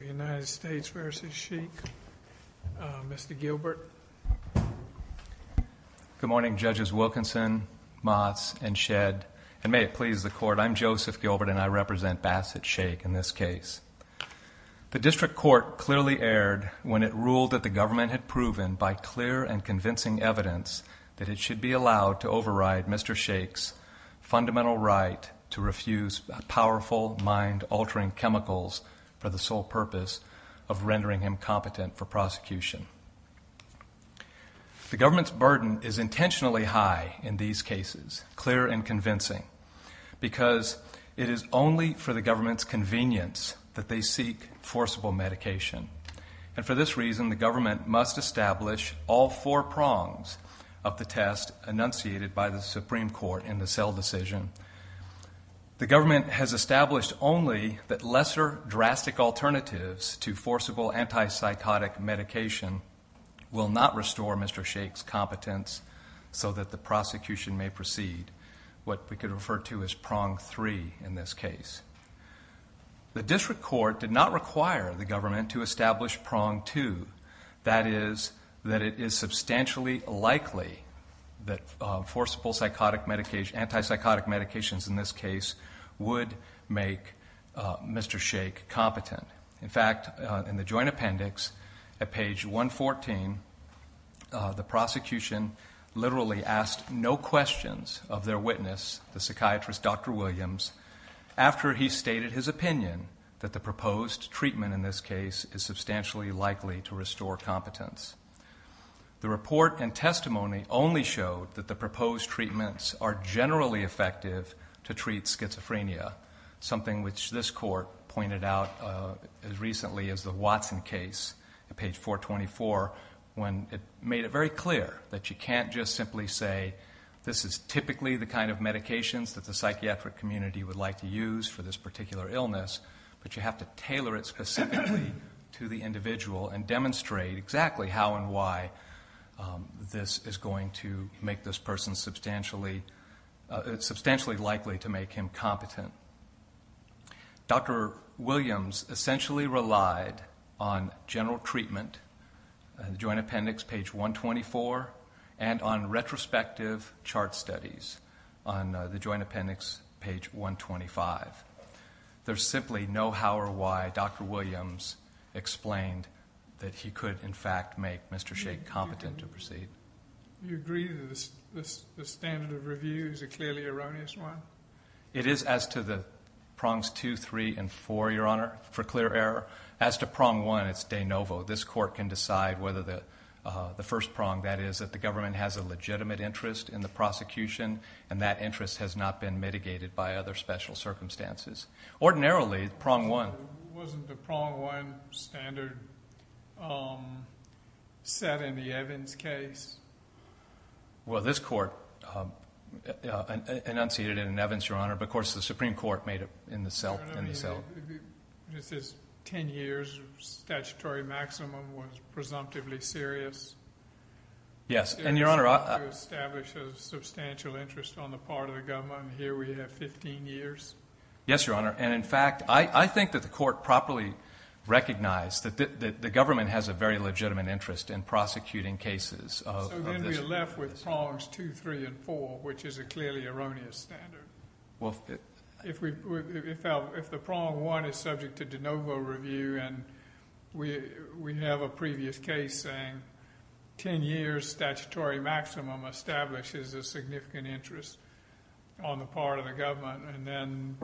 United States v. Sheikh. Mr. Gilbert. Good morning, Judges Wilkinson, Motts, and Shedd. And may it please the Court, I'm Joseph Gilbert, and I represent Basit Sheikh in this case. The District Court clearly erred when it ruled that the government had proven, by clear and convincing evidence, that it should be allowed to override Mr. Sheikh's fundamental right to refuse powerful, mind-altering chemicals for the sole purpose of rendering him competent for prosecution. The government's burden is intentionally high in these cases, clear and convincing, because it is only for the government's convenience that they seek forcible medication. And for this reason, the government must establish all four prongs of the test enunciated by the Supreme Court in the Sell decision. The government has established only that lesser drastic alternatives to forcible anti-psychotic medication will not restore Mr. Sheikh's competence so that the prosecution may proceed. What we could refer to as prong three in this case. The District Court did not require the government to establish prong two. That is, that it is anti-psychotic medications in this case would make Mr. Sheikh competent. In fact, in the joint appendix, at page 114, the prosecution literally asked no questions of their witness, the psychiatrist Dr. Williams, after he stated his opinion that the proposed treatment in this case is substantially likely to restore competence. The report and testimony only showed that the proposed treatments are generally effective to treat schizophrenia, something which this court pointed out as recently as the Watson case at page 424, when it made it very clear that you can't just simply say, this is typically the kind of medications that the psychiatric community would like to use for this particular how and why this is going to make this person substantially likely to make him competent. Dr. Williams essentially relied on general treatment, joint appendix page 124, and on retrospective chart studies on the joint appendix page 125. There's simply no how or why Dr. Sheikh would make Mr. Sheikh competent to proceed. You agree that the standard of review is a clearly erroneous one? It is as to the prongs two, three, and four, Your Honor, for clear error. As to prong one, it's de novo. This court can decide whether the first prong, that is, that the government has a legitimate interest in the prosecution, and that interest has not been mitigated by other special circumstances. Ordinarily, prong one... set in the Evans case? Well, this court enunciated it in Evans, Your Honor, but of course the Supreme Court made it in the Sealth. This is 10 years of statutory maximum was presumptively serious? Yes, and Your Honor... to establish a substantial interest on the part of the government, and here we have 15 years? Yes, Your Honor, and in fact, I think that the court properly recognized that the government has a very legitimate interest in prosecuting cases. So then we're left with prongs two, three, and four, which is a clearly erroneous standard. Well... If the prong one is subject to de novo review, and we have a previous case saying 10 years statutory maximum establishes a significant interest on the part of the government, and then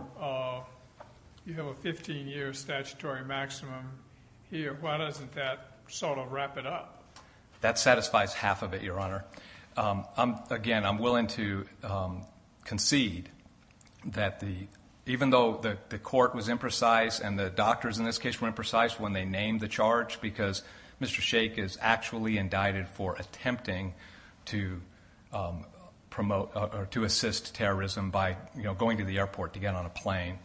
you have a 15-year statutory maximum here, why doesn't that sort of wrap it up? That satisfies half of it, Your Honor. Again, I'm willing to concede that even though the court was imprecise, and the doctors in this case were imprecise when they named the charge, because Mr. Sheikh is actually indicted for attempting to assist terrorism by going to the airport to get on a plane.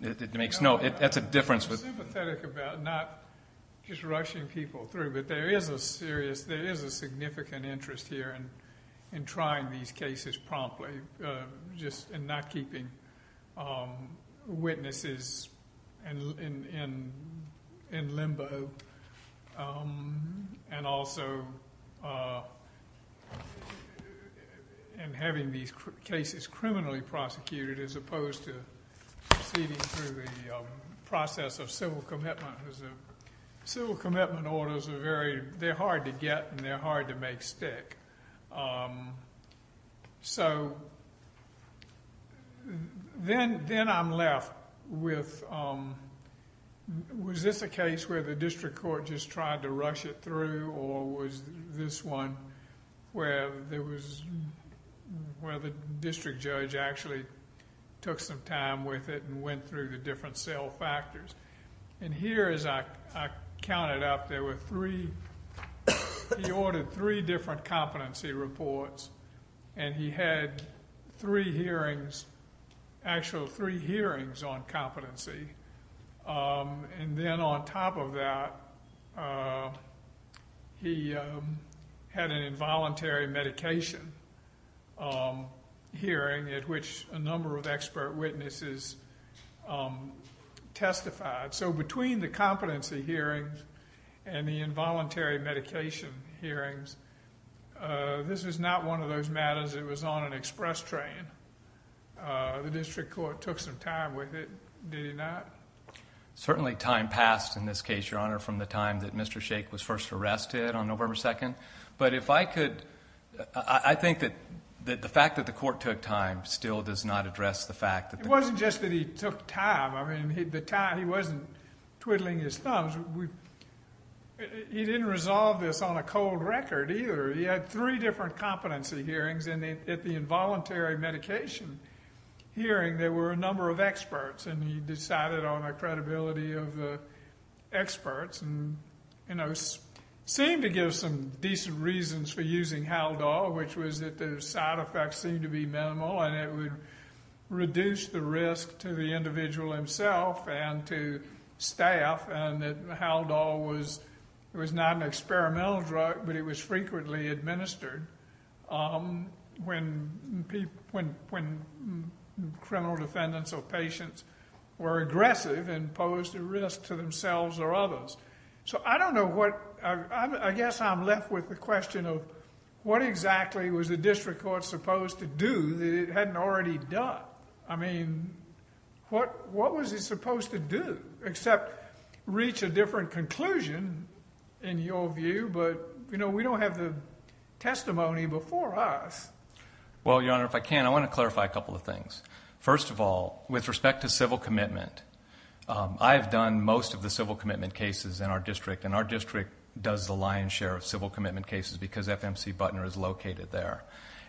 That's a difference. I'm sympathetic about not just rushing people through, but there is a serious, there is a significant interest here in trying these cases promptly, just in not keeping witnesses in limbo, and also in having these cases criminally prosecuted as opposed to proceeding through the process of civil commitment. Civil commitment orders are very, they're hard to get, and they're hard to make stick. So, then I'm left with, was this a case where the district court just tried to rush it through, or was this one where there was, where the district judge actually took some time with it and went through the different cell factors? And here, as I counted up, there were three, he ordered three different competency reports, and he had three hearings, actual three hearings on competency. And then on top of that, he had an involuntary medication hearing at which a number of expert witnesses testified. So, between the competency hearings and the involuntary medication hearings, this was not one of those matters that was on an express train. The district court took some time with it, did it not? Certainly time passed in this case, Your Honor, from the time that Mr. Sheikh was first arrested on November 2nd. But if I could, I think that the fact that the court took time still does not address the fact that... It wasn't just that he took time. I mean, the time, he wasn't twiddling his thumbs. He didn't resolve this on a cold record either. He had three different competency hearings, and at the involuntary medication hearing there were a number of experts, and he decided on the credibility of the experts and, you know, seemed to give some decent reasons for using Haldol, which was that the side effects seemed to be minimal and it would reduce the risk to the individual himself and to staff and that Haldol was not an experimental drug, but it was frequently administered when criminal defendants or patients were aggressive and posed a risk to themselves or others. So I don't know what... I guess I'm left with the question of what exactly was the district court supposed to do that it hadn't already done? I mean, what was it supposed to do? Except reach a different conclusion, in your view, but, you know, we don't have the testimony before us. Well, Your Honor, if I can, I want to clarify a couple of things. First of all, with respect to civil commitment, I've done most of the civil commitment cases in our district, and our district does the lion's share of civil commitment cases because FMC Butner is located there.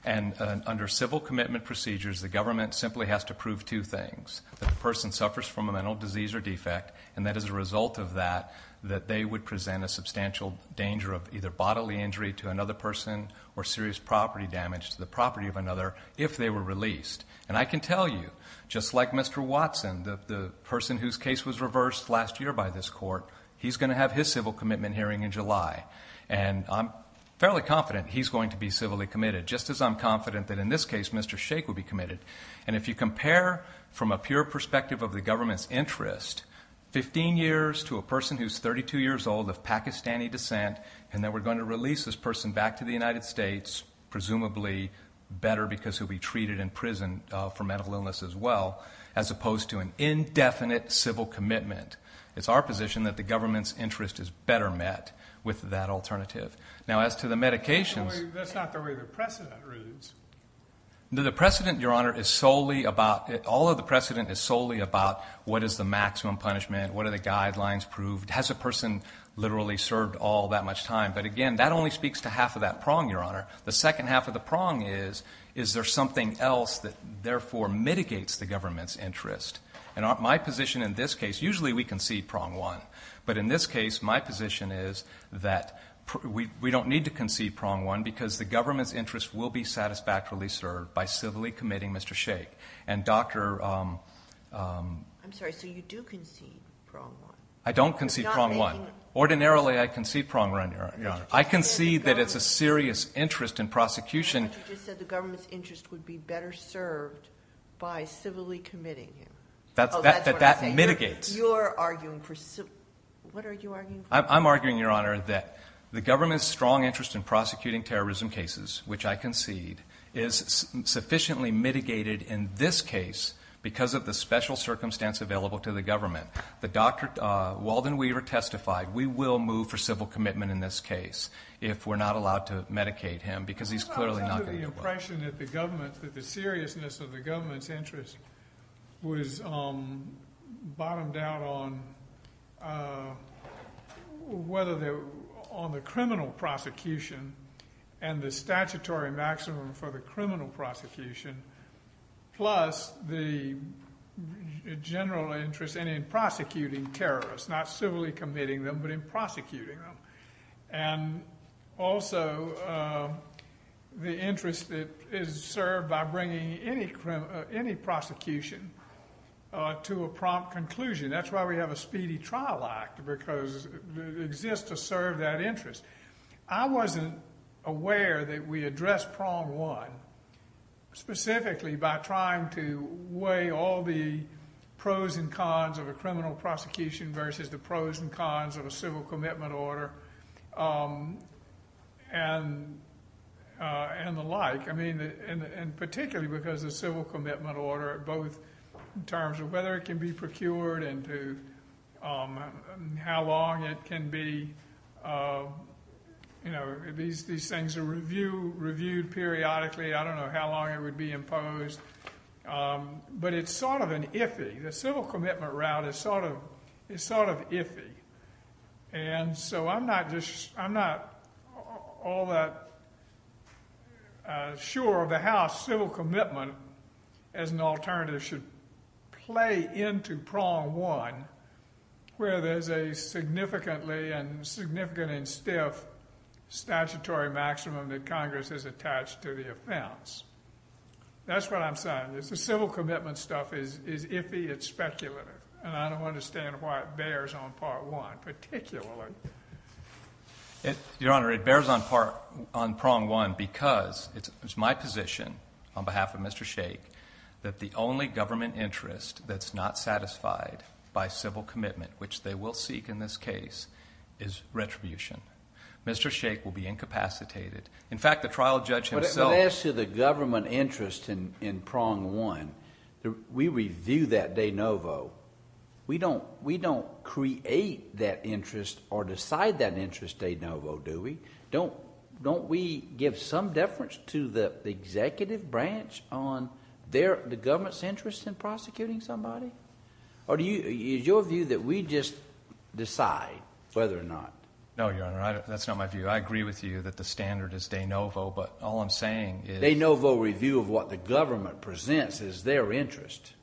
And under civil commitment procedures, the government simply has to prove two things, that the person suffers from a mental disease or defect, and that as a result of that, that they would present a substantial danger of either bodily injury to another person or serious property damage to the property of another if they were released. And I can tell you, just like Mr. Watson, the person whose case was reversed last year by this court, he's going to have his civil commitment hearing in July. And I'm fairly confident he's going to be civilly committed, just as I'm confident that in this case Mr. Shake will be committed. And if you compare from a pure perspective of the government's interest, 15 years to a person who's 32 years old of Pakistani descent, and then we're going to release this person back to the United States, presumably better because he'll be treated in prison for mental illness as well, as opposed to an indefinite civil commitment, it's our position that the government's interest is better met with that alternative. Now, as to the medications... That's not the way the precedent reads. The precedent, Your Honor, is solely about... Has a person literally served all that much time? But again, that only speaks to half of that prong, Your Honor. The second half of the prong is, is there something else that therefore mitigates the government's interest? And my position in this case, usually we concede prong one. But in this case, my position is that we don't need to concede prong one because the government's interest will be satisfactorily served by civilly committing Mr. Shake. I'm sorry, so you do concede prong one? I don't concede prong one. Ordinarily, I concede prong one, Your Honor. I concede that it's a serious interest in prosecution... But you just said the government's interest would be better served by civilly committing him. That mitigates. You're arguing for... What are you arguing for? I'm arguing, Your Honor, that the government's strong interest in prosecuting terrorism cases, which I concede, is sufficiently mitigated in this case because of the special circumstance available to the government. The doctor, Walden Weaver, testified, we will move for civil commitment in this case if we're not allowed to medicate him because he's clearly not going to do it. Well, that's the impression that the government, that the seriousness of the government's interest was bottomed out on whether they're on the criminal prosecution and the statutory maximum for the criminal prosecution plus the general interest in prosecuting terrorists, not civilly committing them but in prosecuting them, and also the interest that is served by bringing any prosecution to a prompt conclusion. That's why we have a speedy trial act because it exists to serve that interest. I wasn't aware that we addressed prong one, specifically by trying to weigh all the pros and cons of a criminal prosecution versus the pros and cons of a civil commitment order and the like, and particularly because the civil commitment order, both in terms of whether it can be procured and how long it can be. These things are reviewed periodically. I don't know how long it would be imposed, but it's sort of an iffy. The civil commitment route is sort of iffy, and so I'm not all that sure of how civil commitment as an alternative should play into prong one where there's a significantly and stiff statutory maximum that Congress has attached to the offense. That's what I'm saying is the civil commitment stuff is iffy, it's speculative, and I don't understand why it bears on prong one particularly. Your Honor, it bears on prong one because it's my position on behalf of Mr. Shake that the only government interest that's not satisfied by civil commitment, which they will seek in this case, is retribution. Mr. Shake will be incapacitated. In fact, the trial judge himself— We don't create that interest or decide that interest de novo, do we? Don't we give some deference to the executive branch on the government's interest in prosecuting somebody? Or is your view that we just decide whether or not? No, Your Honor, that's not my view. I agree with you that the standard is de novo, but all I'm saying is— A de novo review of what the government presents as their interest.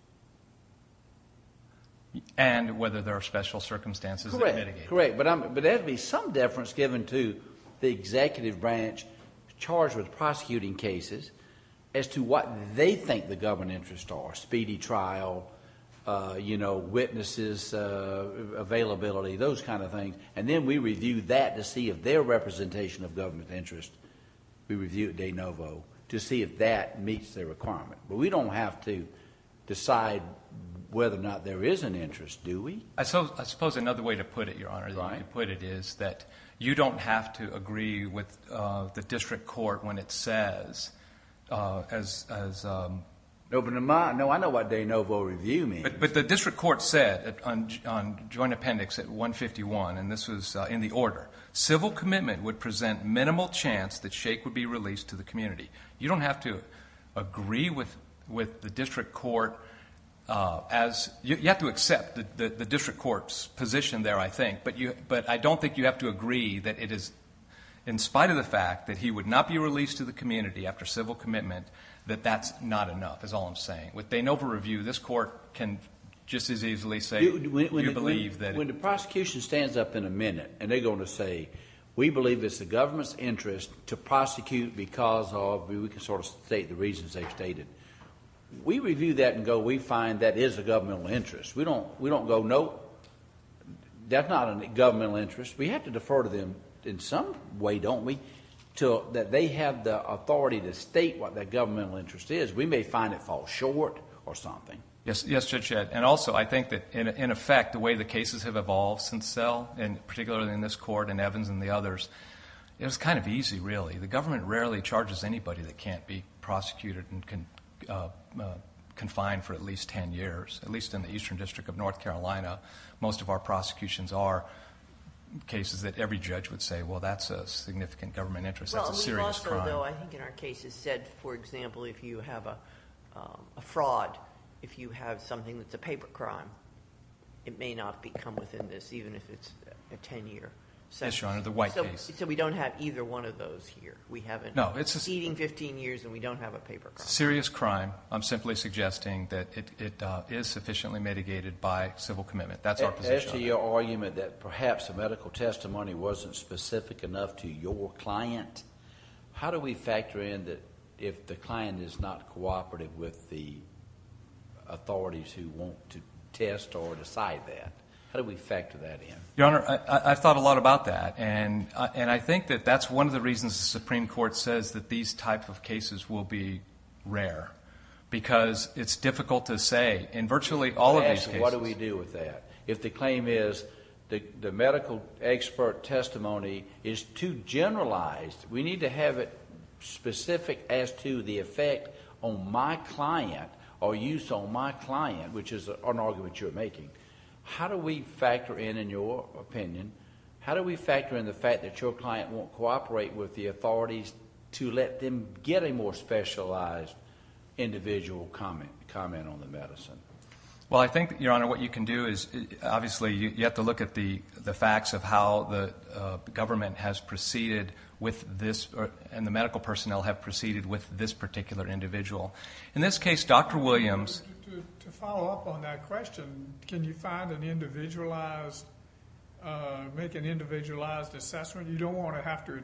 And whether there are special circumstances that mitigate it. Correct. But there'd be some deference given to the executive branch charged with prosecuting cases as to what they think the government interests are, speedy trial, witnesses, availability, those kind of things. And then we review that to see if their representation of government interest, we review de novo to see if that meets their requirement. But we don't have to decide whether or not there is an interest, do we? I suppose another way to put it, Your Honor, is that you don't have to agree with the district court when it says as— No, but I know what de novo review means. But the district court said on joint appendix 151, and this was in the order, civil commitment would present minimal chance that Shake would be released to the community. You don't have to agree with the district court as—you have to accept the district court's position there, I think. But I don't think you have to agree that it is, in spite of the fact that he would not be released to the community after civil commitment, that that's not enough, is all I'm saying. With de novo review, this court can just as easily say, do you believe that— we believe it's the government's interest to prosecute because of—we can sort of state the reasons they've stated. We review that and go, we find that is a governmental interest. We don't go, no, that's not a governmental interest. We have to defer to them in some way, don't we, that they have the authority to state what that governmental interest is. We may find it falls short or something. Yes, Judge Shedd. And also, I think that, in effect, the way the cases have evolved since Cell, and particularly in this court and Evans and the others, it was kind of easy, really. The government rarely charges anybody that can't be prosecuted and confined for at least ten years, at least in the Eastern District of North Carolina. Most of our prosecutions are cases that every judge would say, well, that's a significant government interest. That's a serious crime. Although I think in our cases said, for example, if you have a fraud, if you have something that's a paper crime, it may not come within this, even if it's a ten-year sentence. Yes, Your Honor, the White case. So we don't have either one of those here. We haven't— No, it's a— We're exceeding 15 years, and we don't have a paper crime. It's a serious crime. I'm simply suggesting that it is sufficiently mitigated by civil commitment. That's our position on it. To your argument that perhaps the medical testimony wasn't specific enough to your client, how do we factor in that if the client is not cooperative with the authorities who want to test or decide that? How do we factor that in? Your Honor, I've thought a lot about that, and I think that that's one of the reasons the Supreme Court says that these type of cases will be rare, because it's difficult to say in virtually all of these cases— the medical expert testimony is too generalized. We need to have it specific as to the effect on my client or use on my client, which is an argument you're making. How do we factor in, in your opinion, how do we factor in the fact that your client won't cooperate with the authorities to let them get a more specialized individual comment on the medicine? Well, I think, Your Honor, what you can do is, obviously, you have to look at the facts of how the government has proceeded with this and the medical personnel have proceeded with this particular individual. In this case, Dr. Williams— To follow up on that question, can you find an individualized—make an individualized assessment? You don't want to have to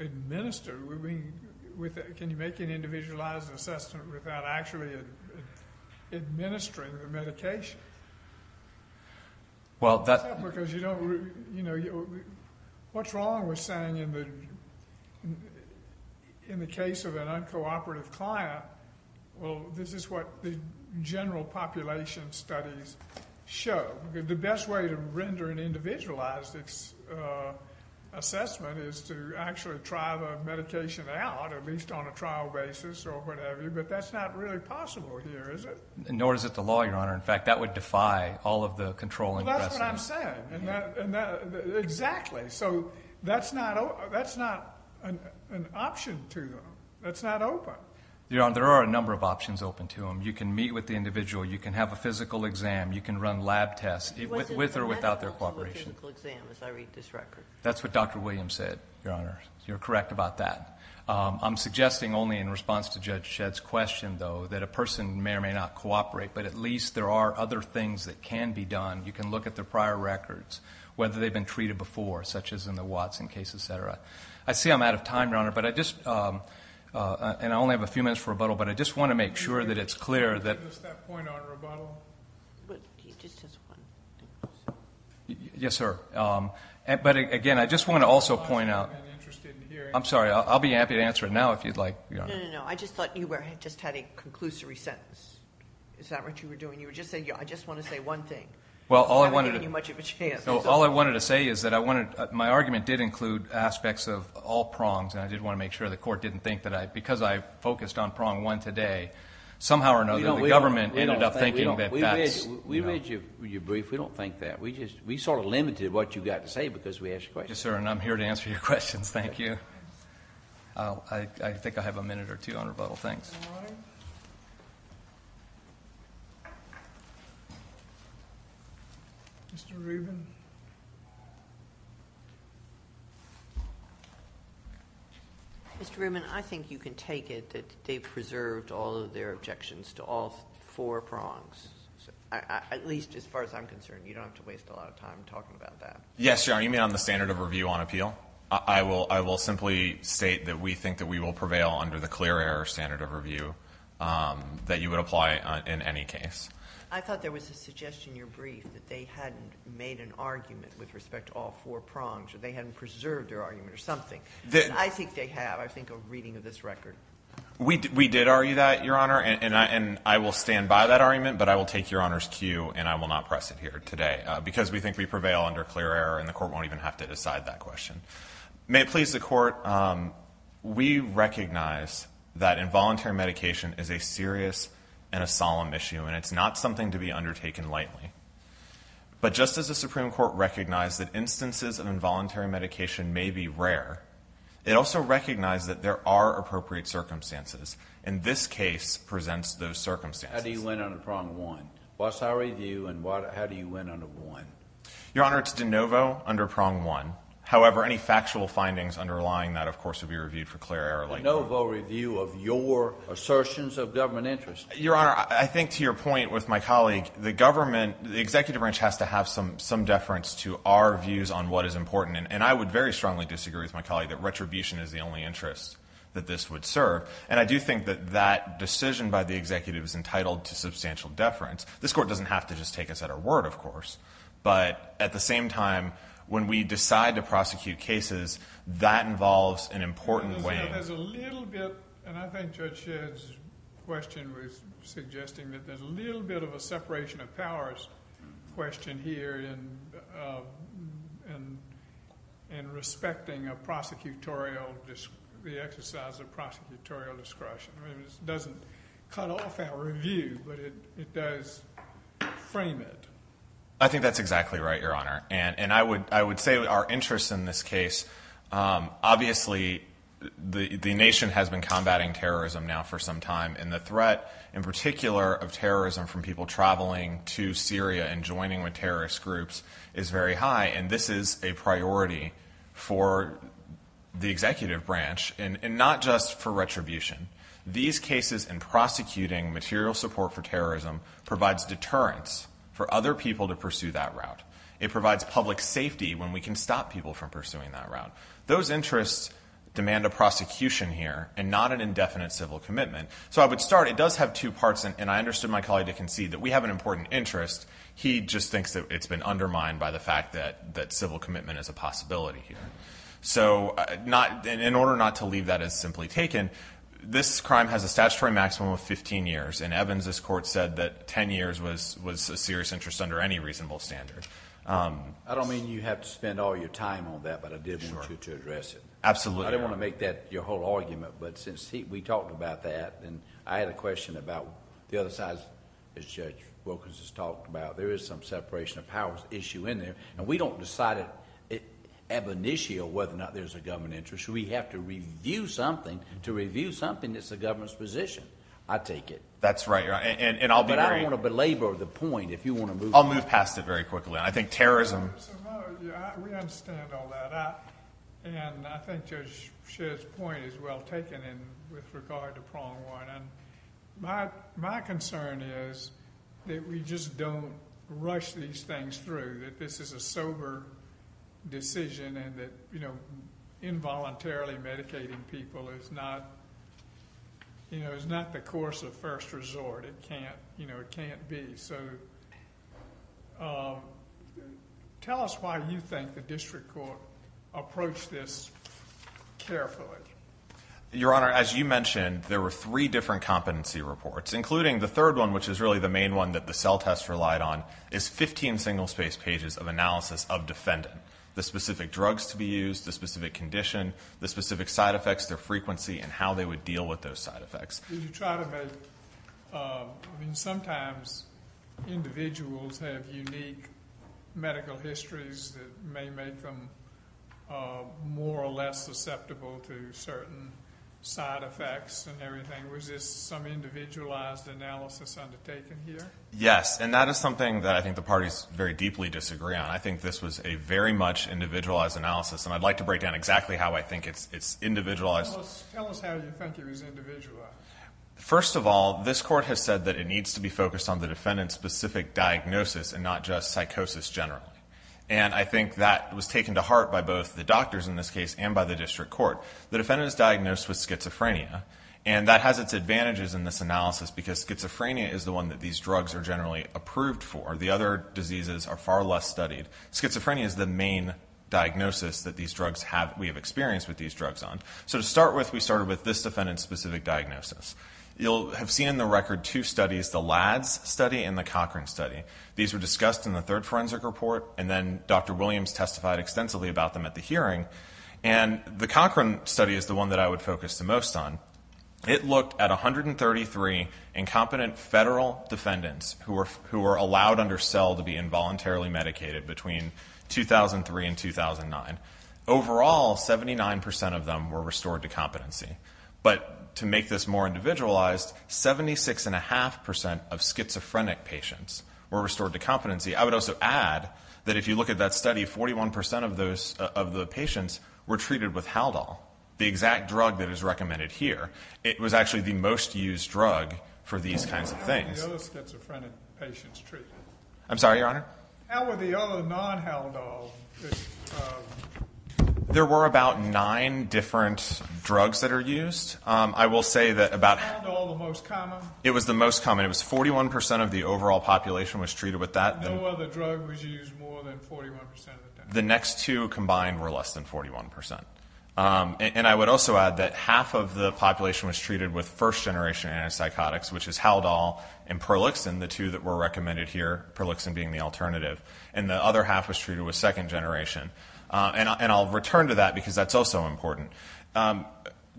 administer. Can you make an individualized assessment without actually administering the medication? What's wrong with saying in the case of an uncooperative client, well, this is what the general population studies show. The best way to render an individualized assessment is to actually try the medication out, at least on a trial basis or whatever, but that's not really possible here, is it? Nor is it the law, Your Honor. In fact, that would defy all of the controlling— Well, that's what I'm saying. Exactly. So that's not an option to them. That's not open. Your Honor, there are a number of options open to them. You can meet with the individual. You can have a physical exam. You can run lab tests with or without their cooperation. What's the medical or physical exam, as I read this record? That's what Dr. Williams said, Your Honor. You're correct about that. I'm suggesting only in response to Judge Shedd's question, though, that a person may or may not cooperate, but at least there are other things that can be done. You can look at their prior records, whether they've been treated before, such as in the Watson case, et cetera. I see I'm out of time, Your Honor, and I only have a few minutes for rebuttal, but I just want to make sure that it's clear that— Can you give us that point on rebuttal? Yes, sir. But, again, I just want to also point out— I'm interested in hearing— I'm sorry. I'll be happy to answer it now if you'd like, Your Honor. No, no, no. I just thought you just had a conclusory sentence. Is that what you were doing? You were just saying, I just want to say one thing. Well, all I wanted to— I haven't given you much of a chance. All I wanted to say is that my argument did include aspects of all prongs, and I did want to make sure the Court didn't think that because I focused on prong one today, somehow or another the government ended up thinking that that's— We read your brief. We don't think that. We sort of limited what you got to say because we asked you questions. Yes, sir, and I'm here to answer your questions. Thank you. I think I have a minute or two on rebuttal. Thanks. Mr. Rubin. Mr. Rubin, I think you can take it that they preserved all of their objections to all four prongs, at least as far as I'm concerned. You don't have to waste a lot of time talking about that. Yes, Your Honor, you mean on the standard of review on appeal? I will simply state that we think that we will prevail under the clear error standard of review that you would apply in any case. I thought there was a suggestion in your brief that they hadn't made an argument with respect to all four prongs or they hadn't preserved their argument or something. I think they have. I think a reading of this record. We did argue that, Your Honor, and I will stand by that argument, but I will take Your Honor's cue, and I will not press it here today because we think we prevail under clear error, and the Court won't even have to decide that question. May it please the Court, we recognize that involuntary medication is a serious and a solemn issue, and it's not something to be undertaken lightly. But just as the Supreme Court recognized that instances of involuntary medication may be rare, it also recognized that there are appropriate circumstances. And this case presents those circumstances. How do you win under prong one? What's our review and how do you win under one? Your Honor, it's de novo under prong one. However, any factual findings underlying that, of course, would be reviewed for clear error. De novo review of your assertions of government interest. Your Honor, I think to your point with my colleague, the government, the executive branch has to have some deference to our views on what is important, and I would very strongly disagree with my colleague that retribution is the only interest that this would serve. And I do think that that decision by the executive is entitled to substantial deference. This Court doesn't have to just take us at our word, of course. But at the same time, when we decide to prosecute cases, that involves an important weighing. And I think Judge Shedd's question was suggesting that there's a little bit of a separation of powers question here in respecting a prosecutorial, the exercise of prosecutorial discretion. I mean, it doesn't cut off our review, but it does frame it. I think that's exactly right, Your Honor. And I would say our interest in this case, obviously the nation has been combating terrorism now for some time, and the threat in particular of terrorism from people traveling to Syria and joining with terrorist groups is very high. And this is a priority for the executive branch, and not just for retribution. These cases in prosecuting material support for terrorism provides deterrence for other people to pursue that route. It provides public safety when we can stop people from pursuing that route. Those interests demand a prosecution here, and not an indefinite civil commitment. So I would start, it does have two parts, and I understood my colleague to concede that we have an important interest. He just thinks that it's been undermined by the fact that civil commitment is a possibility here. So in order not to leave that as simply taken, this crime has a statutory maximum of 15 years. In Evans, this court said that 10 years was a serious interest under any reasonable standard. I don't mean you have to spend all your time on that, but I did want you to address it. Absolutely, Your Honor. I didn't want to make that your whole argument, but since we talked about that, and I had a question about the other side, as Judge Wilkins has talked about. There is some separation of powers issue in there, and we don't decide it ab initio whether or not there's a government interest. We have to review something to review something that's the government's position. I take it. That's right. But I don't want to belabor the point if you want to move past it. I'll move past it very quickly, and I think terrorism. We understand all that, and I think Judge Shedd's point is well taken with regard to Prong One. My concern is that we just don't rush these things through, that this is a sober decision, and that involuntarily medicating people is not the course of first resort. It can't be. So tell us why you think the district court approached this carefully. Your Honor, as you mentioned, there were three different competency reports, including the third one, which is really the main one that the cell test relied on, is 15 single-space pages of analysis of defendant, the specific drugs to be used, the specific condition, the specific side effects, their frequency, and how they would deal with those side effects. Did you try to make, I mean, sometimes individuals have unique medical histories that may make them more or less susceptible to certain side effects and everything. Was this some individualized analysis undertaken here? Yes, and that is something that I think the parties very deeply disagree on. I think this was a very much individualized analysis, and I'd like to break down exactly how I think it's individualized. Tell us how you think it was individualized. First of all, this court has said that it needs to be focused on the defendant's specific diagnosis and not just psychosis generally, and I think that was taken to heart by both the doctors in this case and by the district court. The defendant is diagnosed with schizophrenia, and that has its advantages in this analysis because schizophrenia is the one that these drugs are generally approved for. The other diseases are far less studied. Schizophrenia is the main diagnosis that we have experience with these drugs on. So to start with, we started with this defendant's specific diagnosis. You'll have seen in the record two studies, the LADS study and the Cochran study. These were discussed in the third forensic report, and then Dr. Williams testified extensively about them at the hearing, and the Cochran study is the one that I would focus the most on. It looked at 133 incompetent federal defendants who were allowed under cell to be involuntarily medicated between 2003 and 2009. Overall, 79% of them were restored to competency. But to make this more individualized, 76.5% of schizophrenic patients were restored to competency. I would also add that if you look at that study, 41% of the patients were treated with Haldol, the exact drug that is recommended here. It was actually the most used drug for these kinds of things. How were the other schizophrenic patients treated? I'm sorry, Your Honor? How were the other non-Haldol? There were about nine different drugs that are used. Is Haldol the most common? It was the most common. It was 41% of the overall population was treated with that. No other drug was used more than 41% of the time? The next two combined were less than 41%. And I would also add that half of the population was treated with first-generation antipsychotics, which is Haldol and Perlixin, the two that were recommended here, Perlixin being the alternative. And the other half was treated with second-generation. And I'll return to that because that's also important.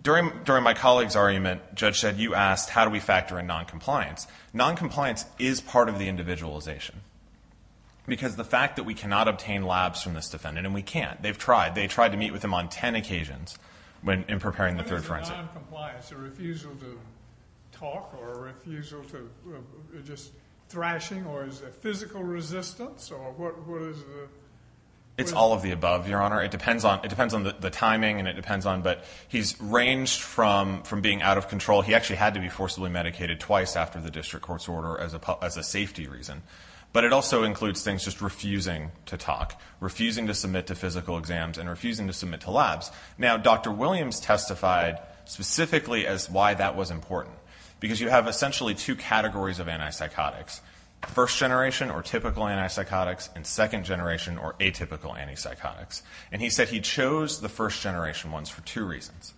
During my colleague's argument, Judge said you asked how do we factor in noncompliance. Noncompliance is part of the individualization because the fact that we cannot obtain labs from this defendant, and we can't. They've tried. They tried to meet with him on ten occasions in preparing the third forensic. What is a noncompliance? A refusal to talk or a refusal to just thrashing? Or is it physical resistance? Or what is the? It's all of the above, Your Honor. It depends on the timing and it depends on. But he's ranged from being out of control. He actually had to be forcibly medicated twice after the district court's order as a safety reason. But it also includes things just refusing to talk, refusing to submit to physical exams, and refusing to submit to labs. Now, Dr. Williams testified specifically as why that was important because you have essentially two categories of antipsychotics, first-generation or typical antipsychotics and second-generation or atypical antipsychotics. And he said he chose the first-generation ones for two reasons.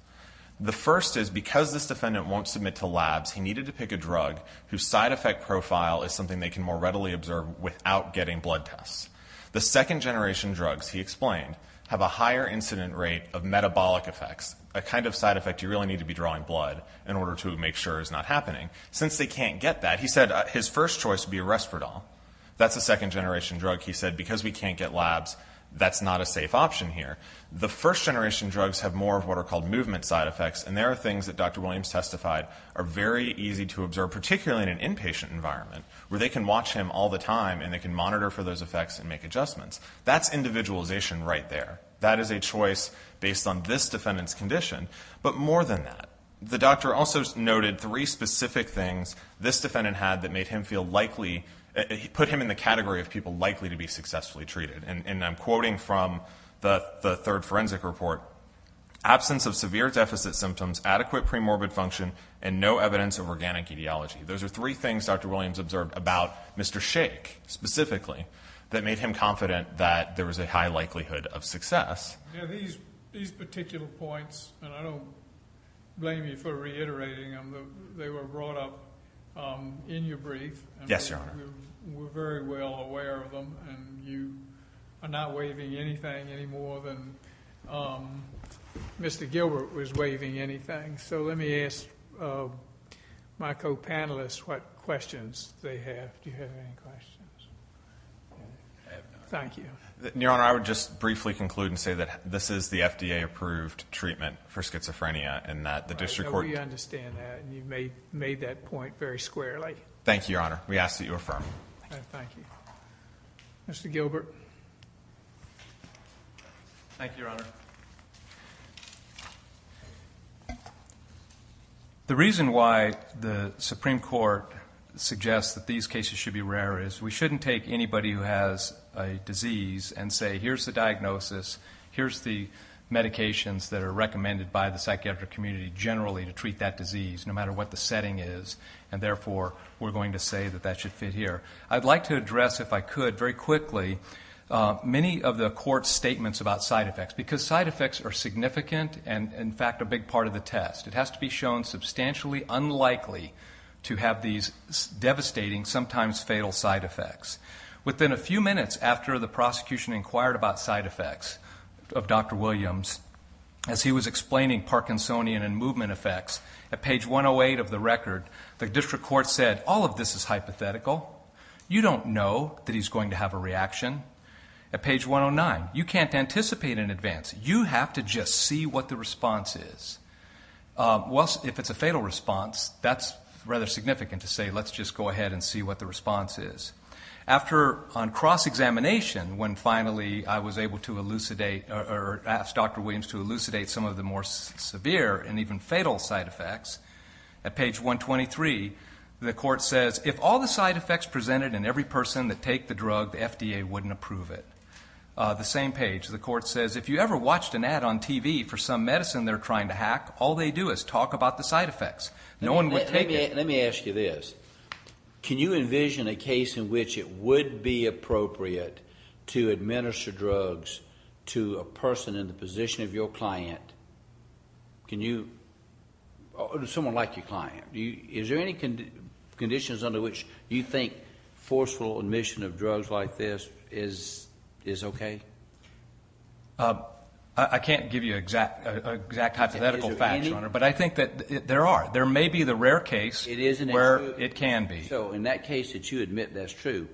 The first is because this defendant won't submit to labs, he needed to pick a drug whose side effect profile is something they can more readily observe without getting blood tests. The second-generation drugs, he explained, have a higher incident rate of metabolic effects, a kind of side effect you really need to be drawing blood in order to make sure is not happening. Since they can't get that, he said his first choice would be a respiradol. That's a second-generation drug, he said, because we can't get labs, that's not a safe option here. The first-generation drugs have more of what are called movement side effects, and there are things that Dr. Williams testified are very easy to observe, particularly in an inpatient environment where they can watch him all the time and they can monitor for those effects and make adjustments. That's individualization right there. That is a choice based on this defendant's condition. But more than that, the doctor also noted three specific things this defendant had that made him feel likely, put him in the category of people likely to be successfully treated. And I'm quoting from the third forensic report, absence of severe deficit symptoms, adequate premorbid function, and no evidence of organic etiology. Those are three things Dr. Williams observed about Mr. Shaik specifically that made him confident that there was a high likelihood of success. These particular points, and I don't blame you for reiterating them, they were brought up in your brief. Yes, Your Honor. We're very well aware of them, and you are not waiving anything any more than Mr. Gilbert was waiving anything. So let me ask my co-panelists what questions they have. Do you have any questions? I have none. Thank you. Your Honor, I would just briefly conclude and say that this is the FDA-approved treatment for schizophrenia and that the district court... I know you understand that, and you made that point very squarely. Thank you, Your Honor. We ask that you affirm. Thank you. Mr. Gilbert. Thank you, Your Honor. The reason why the Supreme Court suggests that these cases should be rare is we shouldn't take anybody who has a disease and say, here's the diagnosis, here's the medications that are recommended by the psychiatric community generally to treat that disease no matter what the setting is, and therefore we're going to say that that should fit here. I'd like to address, if I could, very quickly, many of the court's statements about side effects because side effects are significant and, in fact, a big part of the test. It has to be shown substantially unlikely to have these devastating, sometimes fatal, side effects. Within a few minutes after the prosecution inquired about side effects of Dr. Williams, as he was explaining Parkinsonian and movement effects, at page 108 of the record, the district court said, all of this is hypothetical. You don't know that he's going to have a reaction. At page 109, you can't anticipate in advance. You have to just see what the response is. If it's a fatal response, that's rather significant to say, let's just go ahead and see what the response is. After, on cross-examination, when finally I was able to elucidate or asked Dr. Williams to elucidate some of the more severe and even fatal side effects, at page 123, the court says, if all the side effects presented in every person that take the drug, the FDA wouldn't approve it. The same page, the court says, if you ever watched an ad on TV for some medicine they're trying to hack, all they do is talk about the side effects. No one would take it. Let me ask you this. Can you envision a case in which it would be appropriate to administer drugs to a person in the position of your client? Can you? Someone like your client. Is there any conditions under which you think forceful admission of drugs like this is okay? I can't give you exact hypothetical facts, but I think that there are. There may be the rare case where it can be. So in that case that you admit that's true,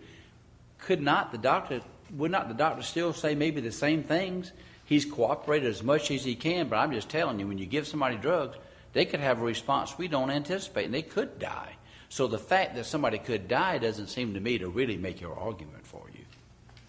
could not the doctor, would not the doctor still say maybe the same things? He's cooperated as much as he can, but I'm just telling you, when you give somebody drugs, they could have a response we don't anticipate, and they could die. So the fact that somebody could die doesn't seem to me to really make your argument for you.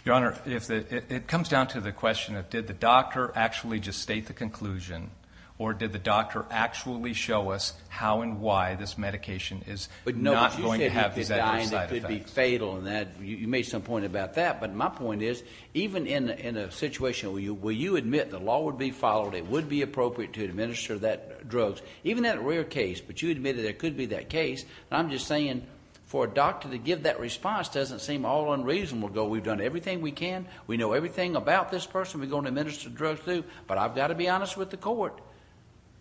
Your Honor, it comes down to the question of did the doctor actually just state the conclusion, or did the doctor actually show us how and why this medication is not going to have these other side effects. But no, you said you could die and it could be fatal, and you made some point about that. But my point is, even in a situation where you admit the law would be followed, it would be appropriate to administer that drug, even that rare case, but you admitted there could be that case, and I'm just saying for a doctor to give that response doesn't seem all unreasonable. Go, we've done everything we can. We know everything about this person we're going to administer drugs to, but I've got to be honest with the court.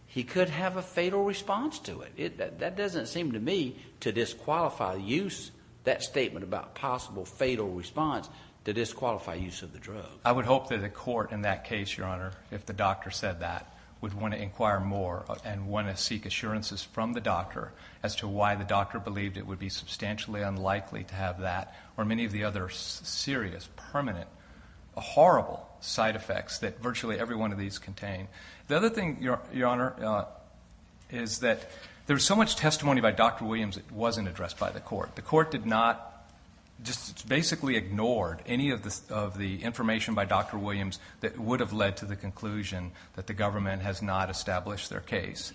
He could have a fatal response to it. That doesn't seem to me to disqualify the use, that statement about possible fatal response, to disqualify use of the drug. I would hope that the court in that case, Your Honor, if the doctor said that, would want to inquire more and want to seek assurances from the doctor as to why the doctor believed it would be substantially unlikely to have that or many of the other serious, permanent, horrible side effects that virtually every one of these contain. The other thing, Your Honor, is that there's so much testimony by Dr. Williams that wasn't addressed by the court. The court did not, just basically ignored any of the information by Dr. Williams that would have led to the conclusion that the government has not established their case.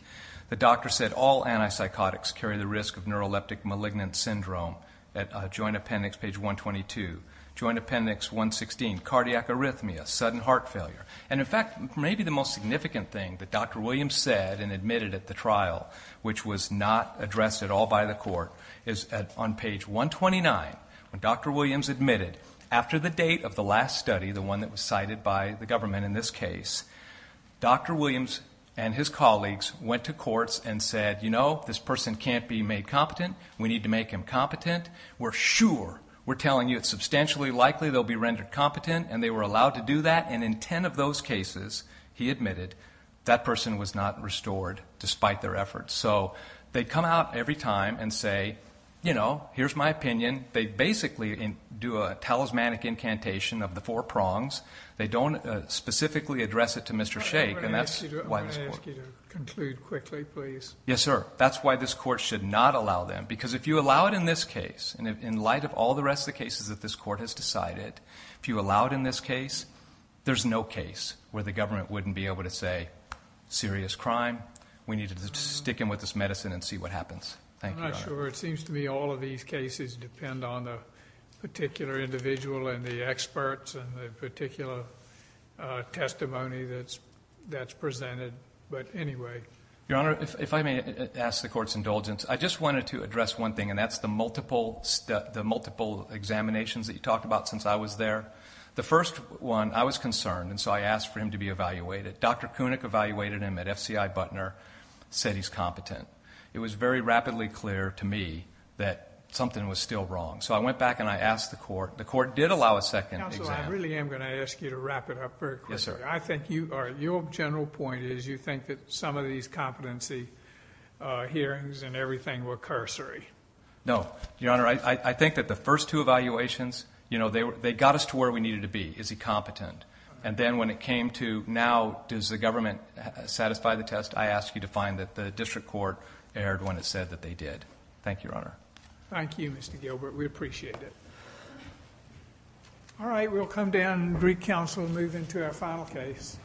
The doctor said all antipsychotics carry the risk of neuroleptic malignant syndrome at joint appendix page 122, joint appendix 116, cardiac arrhythmia, sudden heart failure, and in fact, maybe the most significant thing that Dr. Williams said and admitted at the trial, which was not addressed at all by the court, is on page 129. When Dr. Williams admitted, after the date of the last study, the one that was cited by the government in this case, Dr. Williams and his colleagues went to courts and said, you know, this person can't be made competent. We need to make him competent. We're sure, we're telling you, it's substantially likely they'll be rendered competent, and they were allowed to do that, and in ten of those cases, he admitted, that person was not restored despite their efforts. So they come out every time and say, you know, here's my opinion. They basically do a talismanic incantation of the four prongs. They don't specifically address it to Mr. Sheikh, and that's why this court. I'm going to ask you to conclude quickly, please. Yes, sir. That's why this court should not allow them, because if you allow it in this case, and in light of all the rest of the cases that this court has decided, if you allow it in this case, there's no case where the government wouldn't be able to say, serious crime, we need to stick him with this medicine and see what happens. Thank you, Your Honor. I'm not sure. It seems to me all of these cases depend on the particular individual and the experts and the particular testimony that's presented. But anyway. Your Honor, if I may ask the court's indulgence, I just wanted to address one thing, and that's the multiple examinations that you talked about since I was there. The first one, I was concerned, and so I asked for him to be evaluated. Dr. Koenig evaluated him at FCI Butner, said he's competent. It was very rapidly clear to me that something was still wrong. So I went back and I asked the court. The court did allow a second exam. Counsel, I really am going to ask you to wrap it up very quickly. Yes, sir. Your general point is you think that some of these competency hearings and everything were cursory. No. Your Honor, I think that the first two evaluations, they got us to where we needed to be. Is he competent? And then when it came to now does the government satisfy the test, I ask you to find that the district court erred when it said that they did. Thank you, Your Honor. Thank you, Mr. Gilbert. We appreciate it. All right. We'll come down and recounsel and move into our final case.